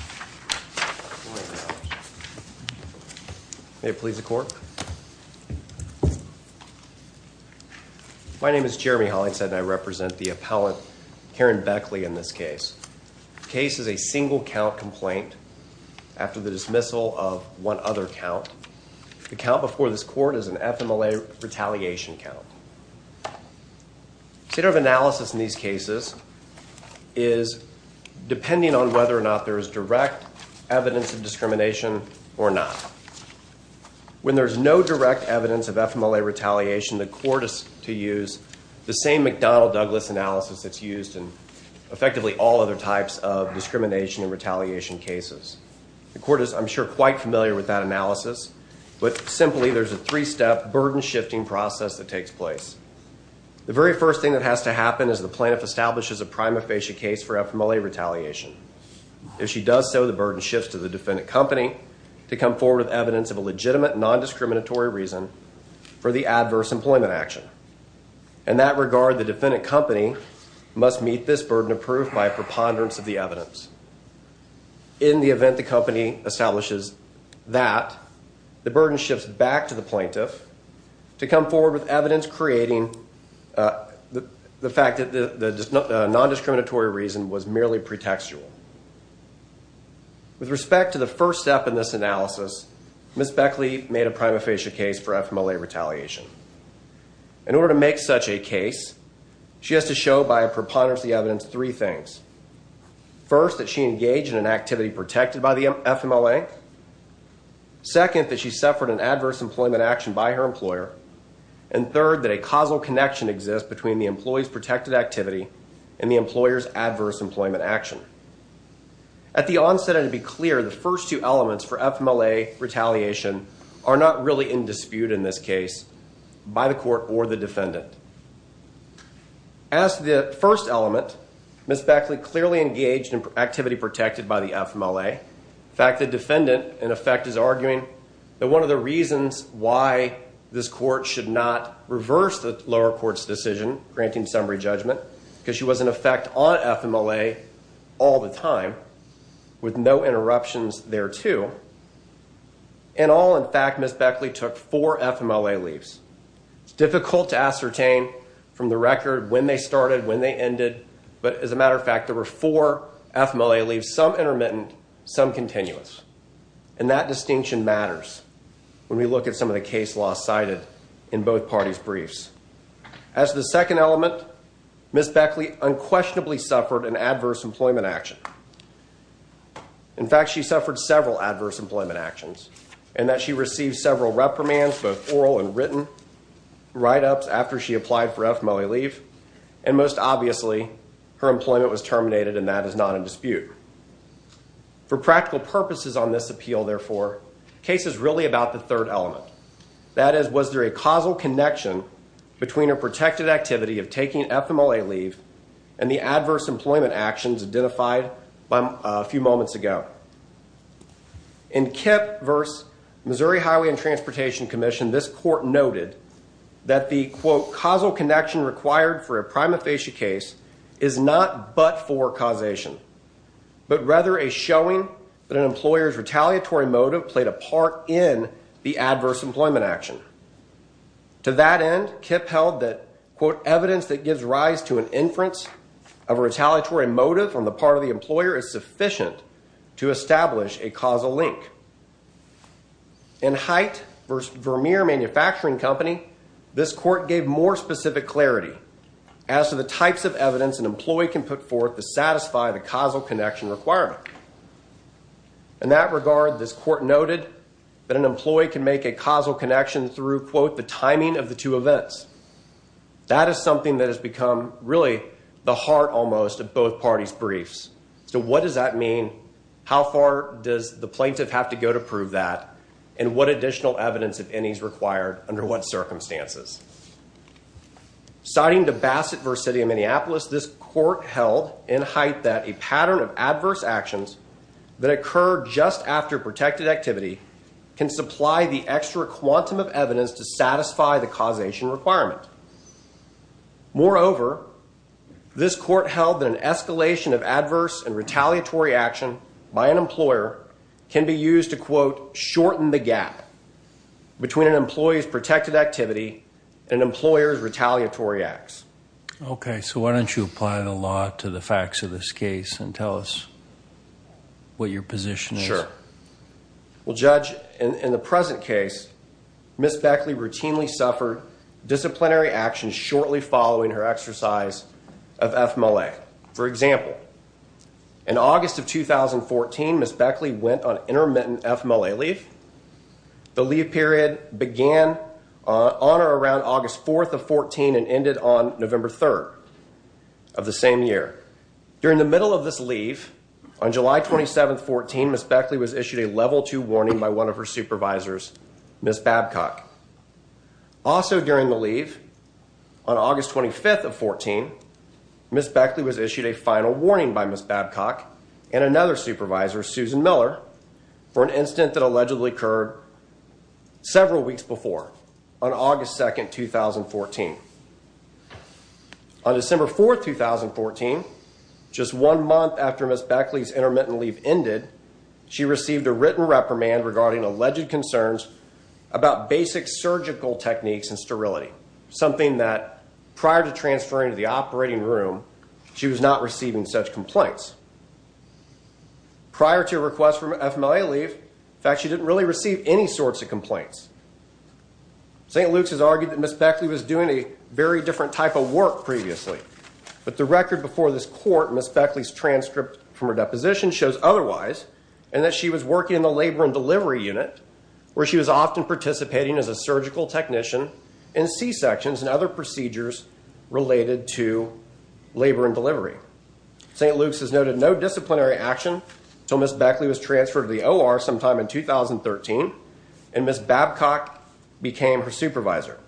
My name is Jeremy Hollingshead and I represent the appellant Karen Beckley in this case. The case is a single count complaint after the dismissal of one other count. The count before this court is an FMLA retaliation count. The state of analysis in these cases is depending on whether or not there is direct evidence of discrimination or not. When there's no direct evidence of FMLA retaliation, the court is to use the same McDonnell-Douglas analysis that's used in effectively all other types of discrimination and retaliation cases. The court is, I'm sure, quite familiar with that analysis, but simply there's a three-step burden shifting process that takes place. The very first thing that has to happen is the plaintiff establishes a prima facie case for FMLA retaliation. If she does so, the burden shifts to the defendant company to come forward with evidence of a legitimate non-discriminatory reason for the adverse employment action. In that regard, the defendant company must meet this burden of proof by a preponderance of the evidence. In the event the company establishes that, the burden shifts back to the plaintiff to come forward with evidence creating the fact that the non-discriminatory reason was merely pretextual. With respect to the first step in this analysis, Ms. Beckley made a prima facie case for FMLA retaliation. In order to make such a case, she has to show by a preponderance of the evidence three things. First, that she engaged in an activity protected by the FMLA. Second, that she suffered an adverse employment action by her employer. And third, that a causal connection exists between the employee's protected activity and the employer's adverse employment action. At the onset, and to be clear, the first two elements for FMLA retaliation are not really in dispute in this case by the court or the defendant. As the first element, Ms. Beckley clearly engaged in activity protected by the FMLA. In fact, the defendant, in effect, is arguing that one of the reasons why this court should not reverse the lower court's decision granting summary judgment, because she was in effect on FMLA all the time with no interruptions thereto. In all, in fact, Ms. Beckley took four FMLA leaves. It's difficult to ascertain from the record when they started, when they ended. But as a matter of fact, there were four FMLA leaves, some intermittent, some continuous. And that distinction matters when we look at some of the case law cited in both parties' briefs. As the second element, Ms. Beckley unquestionably suffered an adverse employment action. In fact, she suffered several adverse employment actions in that she received several reprimands, both oral and written, right up after she applied for FMLA leave. And most obviously, her employment was terminated, and that is not in dispute. For practical purposes on this appeal, therefore, the case is really about the third element. That is, was there a causal connection between her protected activity of taking FMLA leave and the adverse employment actions identified a few moments ago? In KIPP v. Missouri Highway and Transportation Commission, this court noted that the, quote, is not but for causation, but rather a showing that an employer's retaliatory motive played a part in the adverse employment action. To that end, KIPP held that, quote, as to the types of evidence an employee can put forth to satisfy the causal connection requirement. In that regard, this court noted that an employee can make a causal connection through, quote, That is something that has become really the heart, almost, of both parties' briefs. So what does that mean? How far does the plaintiff have to go to prove that? And what additional evidence, if any, is required under what circumstances? Citing the Bassett v. City of Minneapolis, this court held in height that a pattern of adverse actions that occur just after protected activity can supply the extra quantum of evidence to satisfy the causation requirement. Moreover, this court held that an escalation of adverse and retaliatory action by an employer can be used to, quote, Okay, so why don't you apply the law to the facts of this case and tell us what your position is? Sure. Well, Judge, in the present case, Ms. Beckley routinely suffered disciplinary action shortly following her exercise of FMLA. For example, in August of 2014, Ms. Beckley went on intermittent FMLA leave. The leave period began on or around August 4th of 2014 and ended on November 3rd of the same year. During the middle of this leave, on July 27th, 2014, Ms. Beckley was issued a level 2 warning by one of her supervisors, Ms. Babcock. Also during the leave, on August 25th of 2014, Ms. Beckley was issued a final warning by Ms. Babcock and another supervisor, Susan Miller, for an incident that allegedly occurred several weeks before, on August 2nd, 2014. On December 4th, 2014, just one month after Ms. Beckley's intermittent leave ended, she received a written reprimand regarding alleged concerns about basic surgical techniques and sterility, something that, prior to transferring to the operating room, she was not receiving such complaints. Prior to her request for FMLA leave, in fact, she didn't really receive any sorts of complaints. St. Luke's has argued that Ms. Beckley was doing a very different type of work previously, but the record before this court, Ms. Beckley's transcript from her deposition, shows otherwise, and that she was working in the labor and delivery unit, where she was often participating as a surgical technician in C-sections and other procedures related to labor and delivery. St. Luke's has noted no disciplinary action until Ms. Beckley was transferred to the OR sometime in 2013, and Ms. Babcock became her supervisor.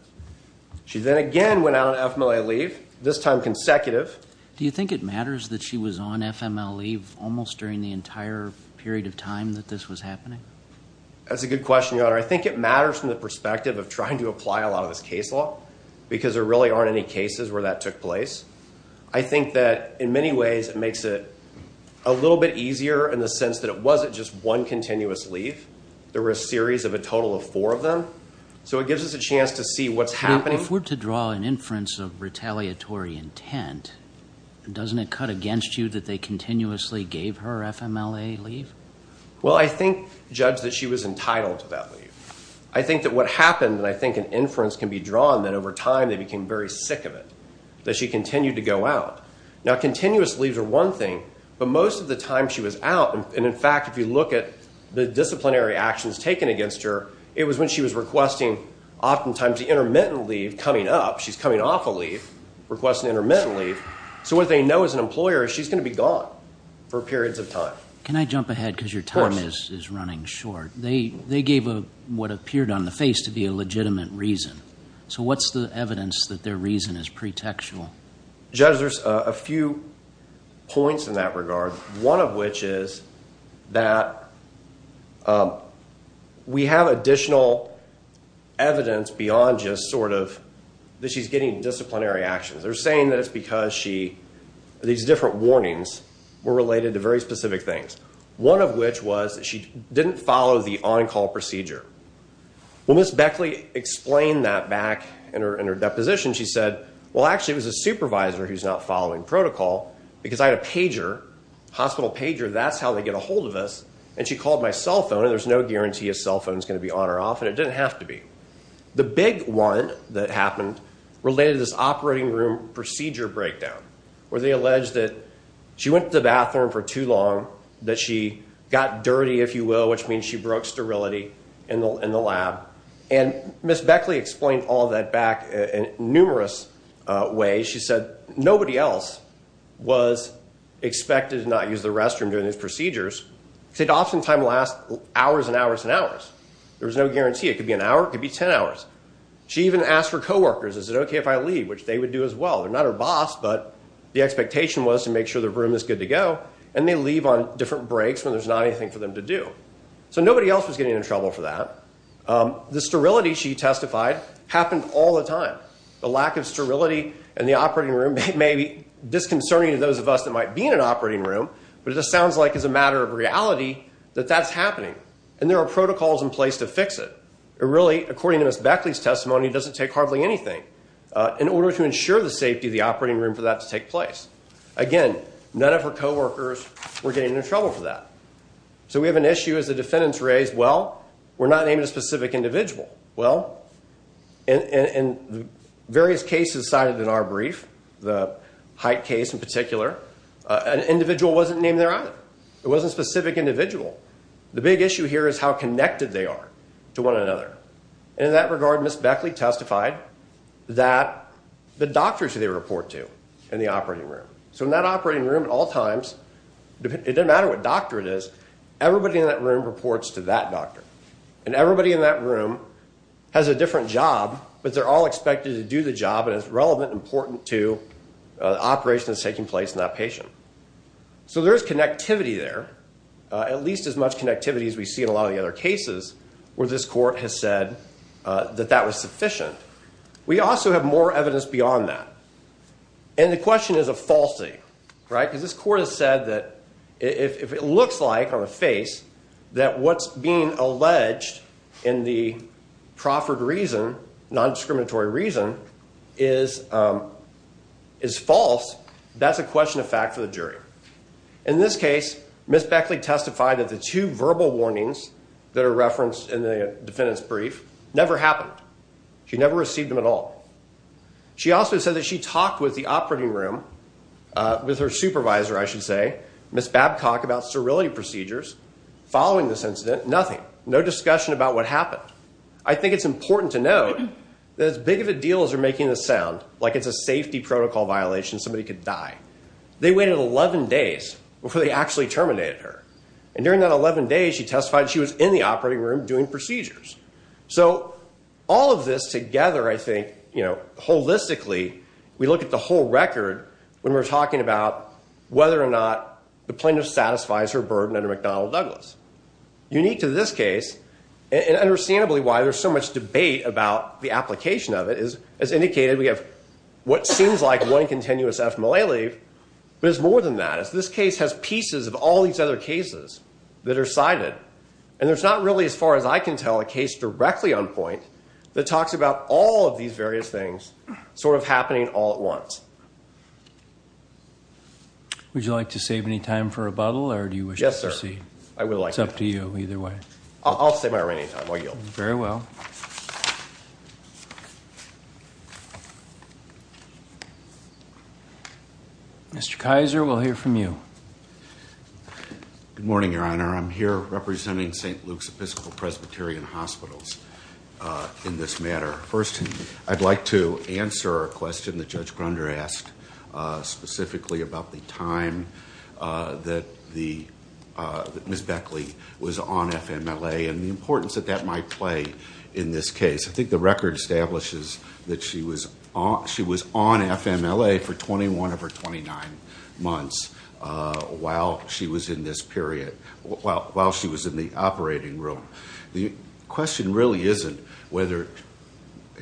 She then again went out on FMLA leave, this time consecutive. Do you think it matters that she was on FMLA leave almost during the entire period of time that this was happening? That's a good question, Your Honor. I think it matters from the perspective of trying to apply a lot of this case law, because there really aren't any cases where that took place. I think that, in many ways, it makes it a little bit easier in the sense that it wasn't just one continuous leave. There were a series of a total of four of them. So it gives us a chance to see what's happening. But if we're to draw an inference of retaliatory intent, doesn't it cut against you that they continuously gave her FMLA leave? Well, I think, Judge, that she was entitled to that leave. I think that what happened, and I think an inference can be drawn, that over time they became very sick of it, that she continued to go out. Now, continuous leaves are one thing, but most of the time she was out, and, in fact, if you look at the disciplinary actions taken against her, it was when she was requesting oftentimes the intermittent leave coming up. She's coming off a leave, requesting intermittent leave. So what they know as an employer is she's going to be gone for periods of time. Can I jump ahead because your time is running short? Of course. They gave what appeared on the face to be a legitimate reason. So what's the evidence that their reason is pretextual? Judge, there's a few points in that regard, one of which is that we have additional evidence beyond just sort of that she's getting disciplinary actions. They're saying that it's because these different warnings were related to very specific things, one of which was that she didn't follow the on-call procedure. When Ms. Beckley explained that back in her deposition, she said, well, actually it was a supervisor who's not following protocol because I had a pager, hospital pager, that's how they get a hold of us, and she called my cell phone, and there's no guarantee a cell phone's going to be on or off, and it didn't have to be. The big one that happened related to this operating room procedure breakdown, where they alleged that she went to the bathroom for too long, that she got dirty, if you will, which means she broke sterility in the lab. And Ms. Beckley explained all of that back in numerous ways. She said nobody else was expected to not use the restroom during these procedures. It oftentimes lasts hours and hours and hours. There was no guarantee. It could be an hour. It could be 10 hours. She even asked her coworkers, is it okay if I leave, which they would do as well. They're not her boss, but the expectation was to make sure the room is good to go, and they leave on different breaks when there's not anything for them to do. So nobody else was getting in trouble for that. The sterility, she testified, happened all the time. The lack of sterility in the operating room may be disconcerting to those of us that might be in an operating room, but it just sounds like as a matter of reality that that's happening, and there are protocols in place to fix it. And really, according to Ms. Beckley's testimony, it doesn't take hardly anything in order to ensure the safety of the operating room for that to take place. Again, none of her coworkers were getting into trouble for that. So we have an issue, as the defendant's raised, well, we're not naming a specific individual. Well, in various cases cited in our brief, the Height case in particular, an individual wasn't named there either. It wasn't a specific individual. The big issue here is how connected they are to one another. And in that regard, Ms. Beckley testified that the doctors who they report to in the operating room. So in that operating room at all times, it doesn't matter what doctor it is, everybody in that room reports to that doctor. And everybody in that room has a different job, but they're all expected to do the job, and it's relevant and important to the operation that's taking place in that patient. So there's connectivity there, at least as much connectivity as we see in a lot of the other cases, where this court has said that that was sufficient. We also have more evidence beyond that. And the question is a falsity, right? Because this court has said that if it looks like on the face that what's being alleged in the proffered reason, nondiscriminatory reason, is false, that's a question of fact for the jury. In this case, Ms. Beckley testified that the two verbal warnings that are referenced in the defendant's brief never happened. She never received them at all. She also said that she talked with the operating room, with her supervisor, I should say, Ms. Babcock, about serality procedures following this incident. Nothing, no discussion about what happened. I think it's important to note that as big of a deal as they're making this sound, like it's a safety protocol violation, somebody could die. They waited 11 days before they actually terminated her. And during that 11 days, she testified she was in the operating room doing procedures. So all of this together, I think, you know, holistically, we look at the whole record when we're talking about whether or not the plaintiff satisfies her burden under McDonnell Douglas. Unique to this case, and understandably why there's so much debate about the application of it, is, as indicated, we have what seems like one continuous FMLA leave, but it's more than that. This case has pieces of all these other cases that are cited, and there's not really, as far as I can tell, a case directly on point that talks about all of these various things sort of happening all at once. Would you like to save any time for rebuttal, or do you wish to proceed? Yes, sir. I would like to. It's up to you, either way. I'll save my remaining time. I yield. Very well. Mr. Kaiser, we'll hear from you. Good morning, Your Honor. I'm here representing St. Luke's Episcopal-Presbyterian Hospitals in this matter. First, I'd like to answer a question that Judge Grunder asked specifically about the time that Ms. Beckley was on FMLA and the importance that that might play in this case. I think the record establishes that she was on FMLA for 21 of her 29 months while she was in this period, while she was in the operating room. The question really isn't whether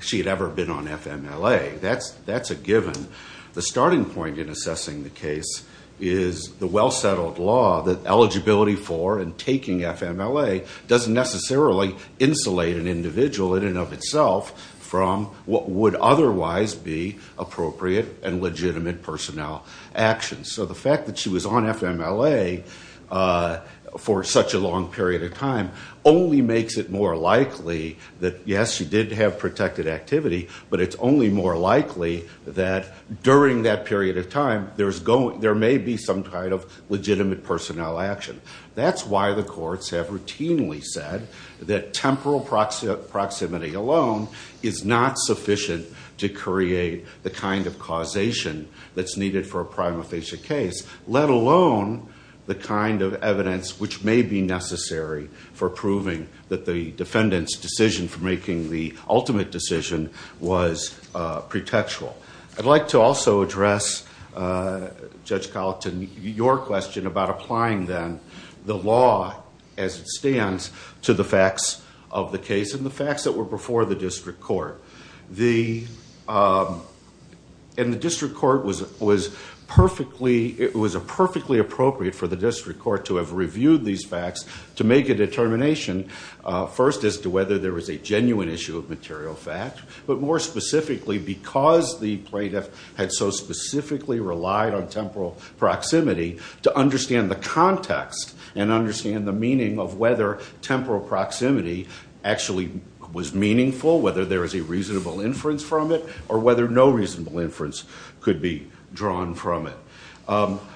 she had ever been on FMLA. That's a given. The starting point in assessing the case is the well-settled law that eligibility for and taking FMLA doesn't necessarily insulate an individual in and of itself from what would otherwise be appropriate and legitimate personnel actions. So the fact that she was on FMLA for such a long period of time only makes it more likely that, yes, she did have protected activity, but it's only more likely that during that period of time there may be some kind of legitimate personnel action. That's why the courts have routinely said that temporal proximity alone is not sufficient to create the kind of causation that's needed for a prima facie case, let alone the kind of evidence which may be necessary for proving that the defendant's decision for making the ultimate decision was pretextual. I'd like to also address, Judge Colleton, your question about applying then the law as it stands to the facts of the case and the facts that were before the district court. The district court was perfectly appropriate for the district court to have reviewed these facts to make a determination, first as to whether there was a genuine issue of material fact, but more specifically because the plaintiff had so specifically relied on temporal proximity to understand the context and understand the meaning of whether temporal proximity actually was meaningful, whether there was a reasonable inference from it, or whether no reasonable inference could be drawn from it.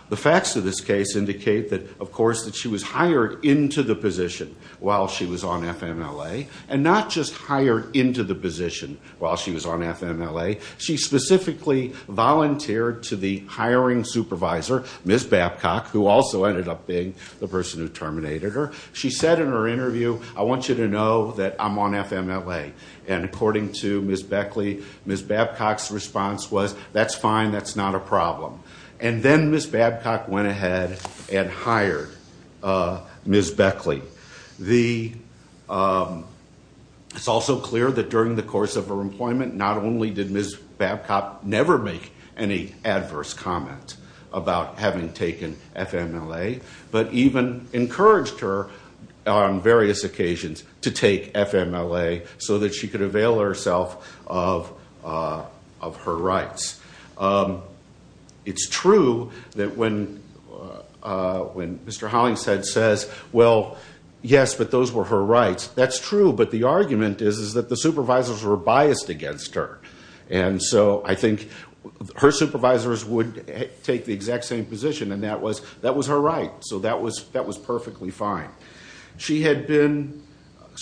The facts of this case indicate that, of course, that she was hired into the position while she was on FMLA, and not just hired into the position while she was on FMLA. She specifically volunteered to the hiring supervisor, Ms. Babcock, who also ended up being the person who terminated her. She said in her interview, I want you to know that I'm on FMLA. And according to Ms. Beckley, Ms. Babcock's response was, that's fine, that's not a problem. And then Ms. Babcock went ahead and hired Ms. Beckley. It's also clear that during the course of her employment, not only did Ms. Babcock never make any adverse comment about having taken FMLA, but even encouraged her on various occasions to take FMLA so that she could avail herself of her rights. It's true that when Mr. Hollingshead says, well, yes, but those were her rights. That's true, but the argument is that the supervisors were biased against her. And so I think her supervisors would take the exact same position, and that was her right. So that was perfectly fine. She had been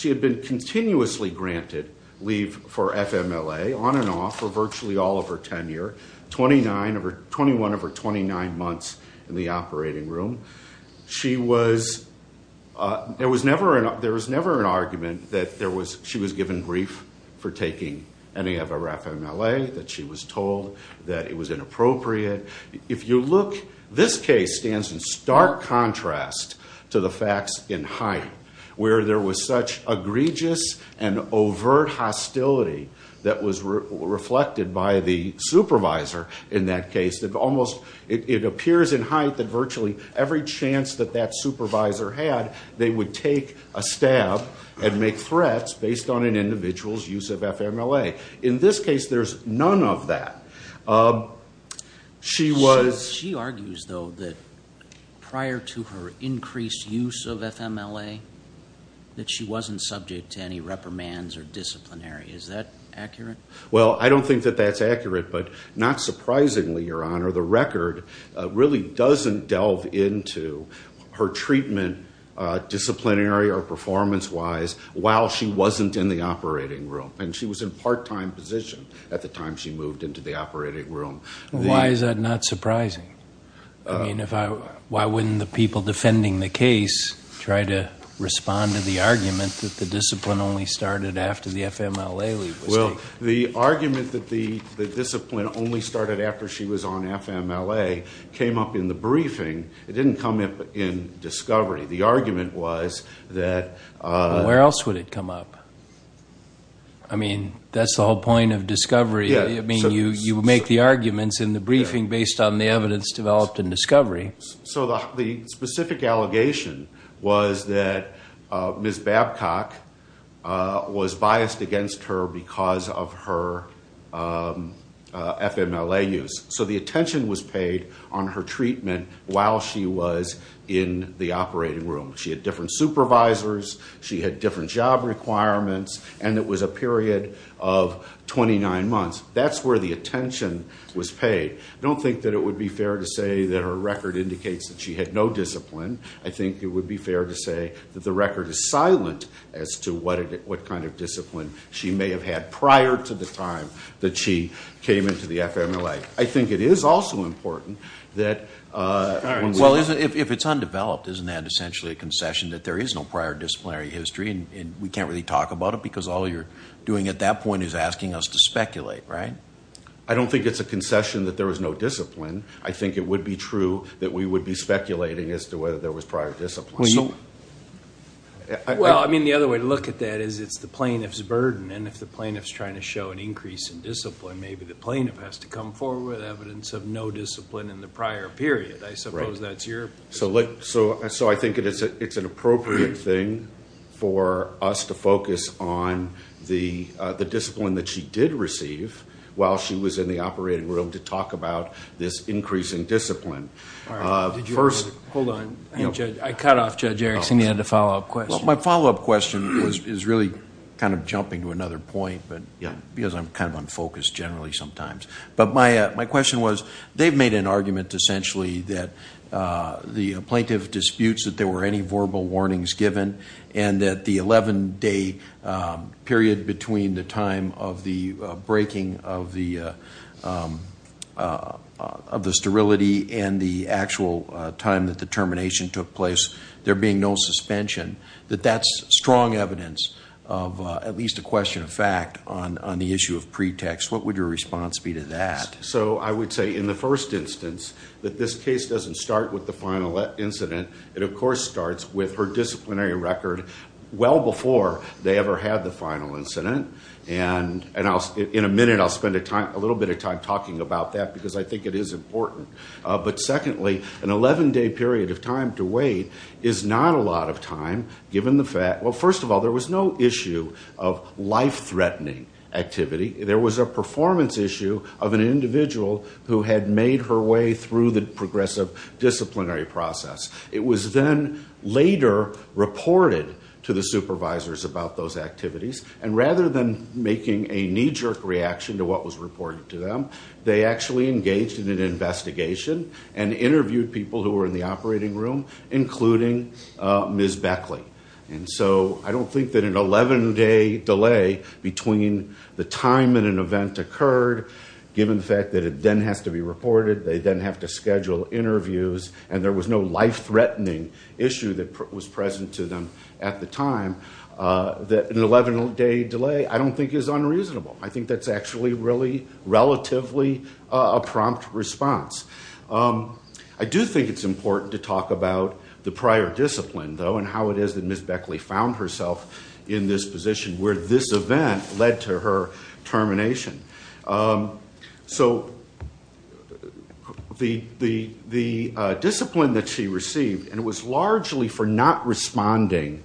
continuously granted leave for FMLA, on and off, for virtually all of her tenure, 21 of her 29 months in the operating room. There was never an argument that she was given brief for taking any of her FMLA, that she was told that it was inappropriate. This case stands in stark contrast to the facts in Hyatt, where there was such egregious and overt hostility that was reflected by the supervisor in that case. It appears in Hyatt that virtually every chance that that supervisor had, they would take a stab and make threats based on an individual's use of FMLA. In this case, there's none of that. She argues, though, that prior to her increased use of FMLA, that she wasn't subject to any reprimands or disciplinary. Is that accurate? Well, I don't think that that's accurate, but not surprisingly, Your Honor, the record really doesn't delve into her treatment disciplinary or performance-wise while she wasn't in the operating room. And she was in a part-time position at the time she moved into the operating room. Why is that not surprising? I mean, why wouldn't the people defending the case try to respond to the argument that the discipline only started after the FMLA leave was taken? Well, the argument that the discipline only started after she was on FMLA came up in the briefing. It didn't come up in discovery. The argument was that... Where else would it come up? I mean, that's the whole point of discovery. I mean, you make the arguments in the briefing based on the evidence developed in discovery. So the specific allegation was that Ms. Babcock was biased against her because of her FMLA use. So the attention was paid on her treatment while she was in the operating room. She had different supervisors. She had different job requirements. And it was a period of 29 months. That's where the attention was paid. I don't think that it would be fair to say that her record indicates that she had no discipline. I think it would be fair to say that the record is silent as to what kind of discipline she may have had prior to the time that she came into the FMLA. I think it is also important that... that there is no prior disciplinary history. And we can't really talk about it because all you're doing at that point is asking us to speculate, right? I don't think it's a concession that there was no discipline. I think it would be true that we would be speculating as to whether there was prior discipline. Well, I mean, the other way to look at that is it's the plaintiff's burden. And if the plaintiff's trying to show an increase in discipline, maybe the plaintiff has to come forward with evidence of no discipline in the prior period. I suppose that's your... So I think it's an appropriate thing for us to focus on the discipline that she did receive while she was in the operating room to talk about this increase in discipline. First... Hold on. I cut off Judge Erickson. He had a follow-up question. Well, my follow-up question is really kind of jumping to another point because I'm kind of unfocused generally sometimes. But my question was they've made an argument essentially that the plaintiff disputes that there were any verbal warnings given and that the 11-day period between the time of the breaking of the sterility and the actual time that the termination took place, there being no suspension, that that's strong evidence of at least a question of fact on the issue of pretext. What would your response be to that? So I would say in the first instance that this case doesn't start with the final incident. It, of course, starts with her disciplinary record well before they ever had the final incident. And in a minute I'll spend a little bit of time talking about that because I think it is important. But secondly, an 11-day period of time to wait is not a lot of time given the fact... Well, first of all, there was no issue of life-threatening activity. There was a performance issue of an individual who had made her way through the progressive disciplinary process. It was then later reported to the supervisors about those activities. And rather than making a knee-jerk reaction to what was reported to them, they actually engaged in an investigation and interviewed people who were in the operating room, including Ms. Beckley. And so I don't think that an 11-day delay between the time that an event occurred, given the fact that it then has to be reported, they then have to schedule interviews, and there was no life-threatening issue that was present to them at the time, that an 11-day delay I don't think is unreasonable. I think that's actually really relatively a prompt response. I do think it's important to talk about the prior discipline, though, and how it is that Ms. Beckley found herself in this position where this event led to her termination. So the discipline that she received, and it was largely for not responding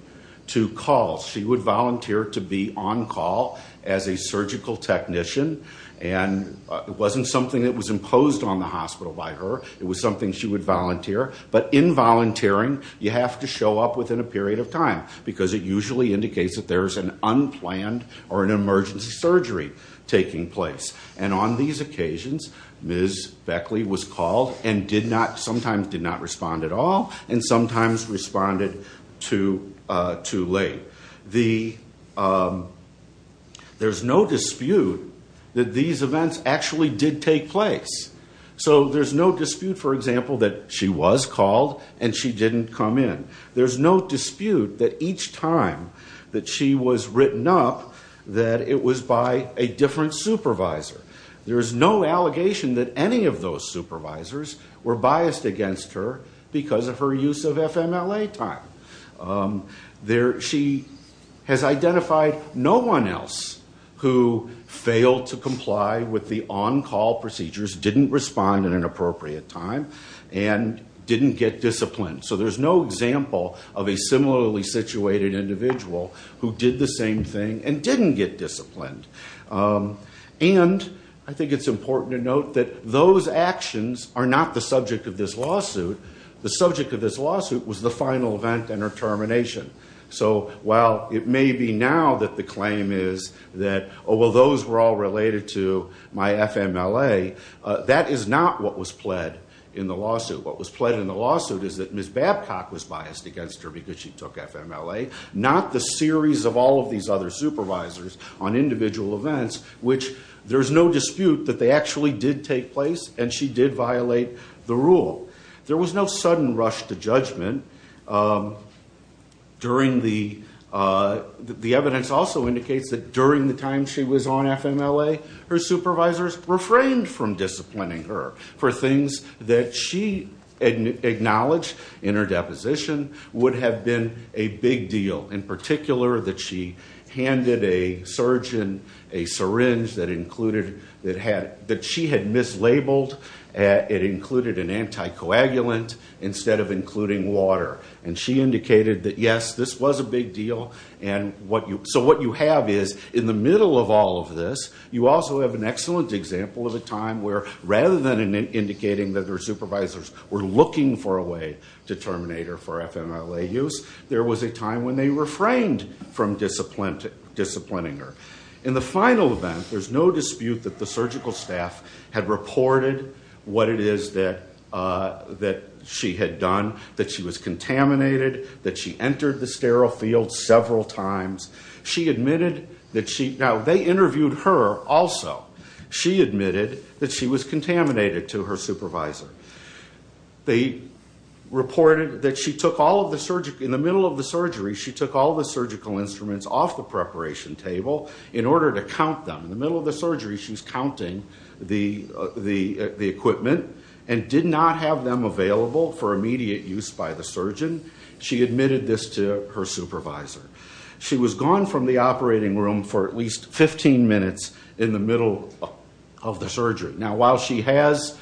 to calls. She would volunteer to be on call as a surgical technician, and it wasn't something that was imposed on the hospital by her. It was something she would volunteer. But in volunteering, you have to show up within a period of time, because it usually indicates that there's an unplanned or an emergency surgery taking place. And on these occasions, Ms. Beckley was called and sometimes did not respond at all, and sometimes responded too late. There's no dispute that these events actually did take place. So there's no dispute, for example, that she was called and she didn't come in. There's no dispute that each time that she was written up, that it was by a different supervisor. There's no allegation that any of those supervisors were biased against her because of her use of FMLA time. She has identified no one else who failed to comply with the on-call procedures, didn't respond at an appropriate time, and didn't get disciplined. So there's no example of a similarly situated individual who did the same thing and didn't get disciplined. And I think it's important to note that those actions are not the subject of this lawsuit. The subject of this lawsuit was the final event and her termination. So while it may be now that the claim is that, oh, well, those were all related to my FMLA, that is not what was pled in the lawsuit. What was pled in the lawsuit is that Ms. Babcock was biased against her because she took FMLA, not the series of all of these other supervisors on individual events, which there's no dispute that they actually did take place, and she did violate the rule. There was no sudden rush to judgment. The evidence also indicates that during the time she was on FMLA, her supervisors refrained from disciplining her for things that she acknowledged in her deposition would have been a big deal, in particular that she handed a surgeon a syringe that she had mislabeled. It included an anticoagulant instead of including water. And she indicated that, yes, this was a big deal. So what you have is, in the middle of all of this, you also have an excellent example of a time where, rather than indicating that her supervisors were looking for a way to terminate her for FMLA use, there was a time when they refrained from disciplining her. In the final event, there's no dispute that the surgical staff had reported what it is that she had done, that she was contaminated, that she entered the sterile field several times. She admitted that she – now, they interviewed her also. She admitted that she was contaminated to her supervisor. They reported that she took all of the – in the middle of the surgery, she took all of the surgical instruments off the preparation table in order to count them. In the middle of the surgery, she was counting the equipment and did not have them available for immediate use by the surgeon. She admitted this to her supervisor. She was gone from the operating room for at least 15 minutes in the middle of the surgery. Now, while she has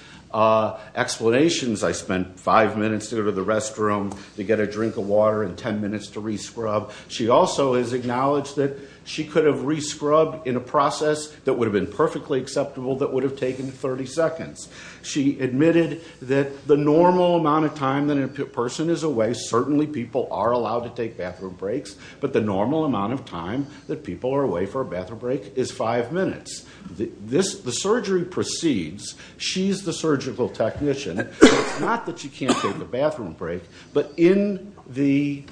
explanations – I spent five minutes to go to the restroom to get a drink of water and ten minutes to re-scrub – she also has acknowledged that she could have re-scrubbed in a process that would have been perfectly acceptable that would have taken 30 seconds. She admitted that the normal amount of time that a person is away – certainly, people are allowed to take bathroom breaks – but the normal amount of time that people are away for a bathroom break is five minutes. The surgery proceeds. She's the surgical technician. It's not that she can't take a bathroom break, but the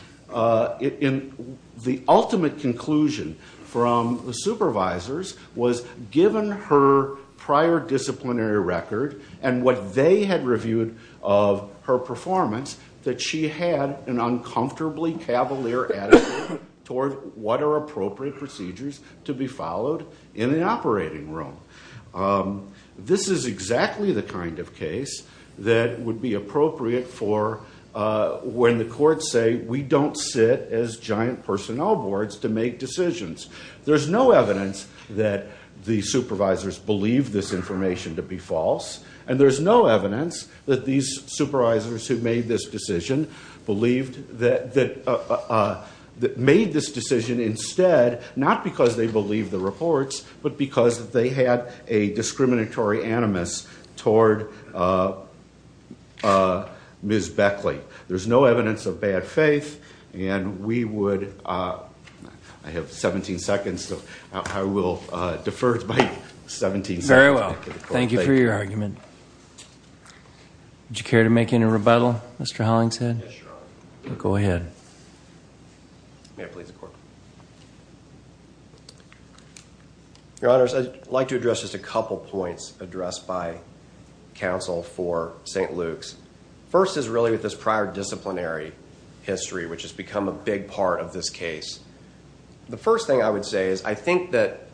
ultimate conclusion from the supervisors was, given her prior disciplinary record and what they had reviewed of her performance, that she had an uncomfortably cavalier attitude toward what are appropriate procedures to be followed in an operating room. This is exactly the kind of case that would be appropriate for when the courts say, we don't sit as giant personnel boards to make decisions. There's no evidence that the supervisors believe this information to be false, and there's no evidence that these supervisors who made this decision believed that – made this decision instead, not because they believed the reports, but because they had a discriminatory animus toward Ms. Beckley. There's no evidence of bad faith, and we would – I have 17 seconds, so I will defer by 17 seconds. Very well. Thank you for your argument. Would you care to make any rebuttal, Mr. Hollingshead? Yes, Your Honor. Go ahead. May it please the Court. Your Honors, I'd like to address just a couple points addressed by counsel for St. Luke's. First is really with this prior disciplinary history, which has become a big part of this case. The first thing I would say is I think that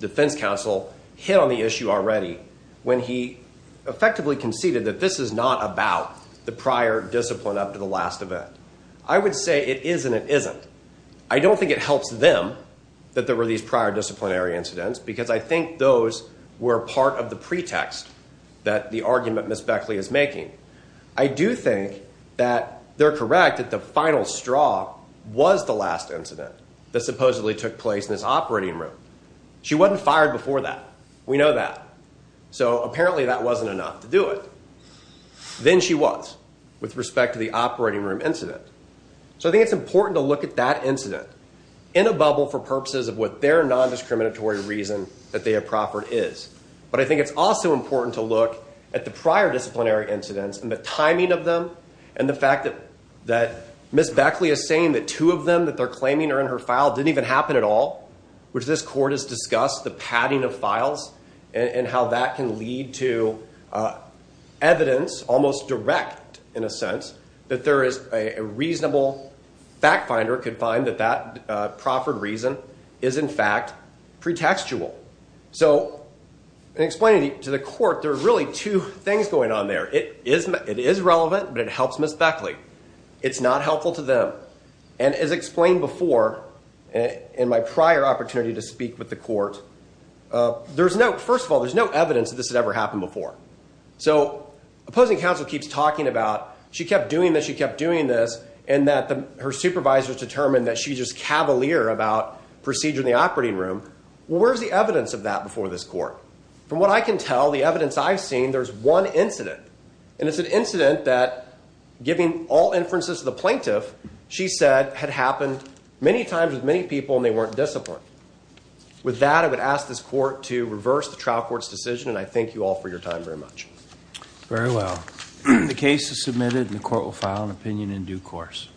defense counsel hit on the issue already when he effectively conceded that this is not about the prior discipline up to the last event. I would say it is and it isn't. I don't think it helps them that there were these prior disciplinary incidents because I think those were part of the pretext that the argument Ms. Beckley is making. I do think that they're correct that the final straw was the last incident that supposedly took place in this operating room. She wasn't fired before that. We know that. So apparently that wasn't enough to do it. Then she was with respect to the operating room incident. So I think it's important to look at that incident in a bubble for purposes of what their nondiscriminatory reason that they have proffered is. But I think it's also important to look at the prior disciplinary incidents and the timing of them and the fact that Ms. Beckley is saying that two of them that they're claiming are in her file didn't even happen at all, which this court has discussed the padding of files and how that can lead to evidence, almost direct in a sense, that there is a reasonable fact finder could find that that proffered reason is in fact pretextual. So in explaining to the court, there are really two things going on there. It is relevant, but it helps Ms. Beckley. It's not helpful to them. And as explained before in my prior opportunity to speak with the court, first of all, there's no evidence that this had ever happened before. So opposing counsel keeps talking about she kept doing this, she kept doing this, and that her supervisors determined that she's just cavalier about procedure in the operating room. Where's the evidence of that before this court? From what I can tell, the evidence I've seen, there's one incident. And it's an incident that, giving all inferences to the plaintiff, she said had happened many times with many people, and they weren't disciplined. With that, I would ask this court to reverse the trial court's decision, and I thank you all for your time very much. Very well. The case is submitted, and the court will file an opinion in due course.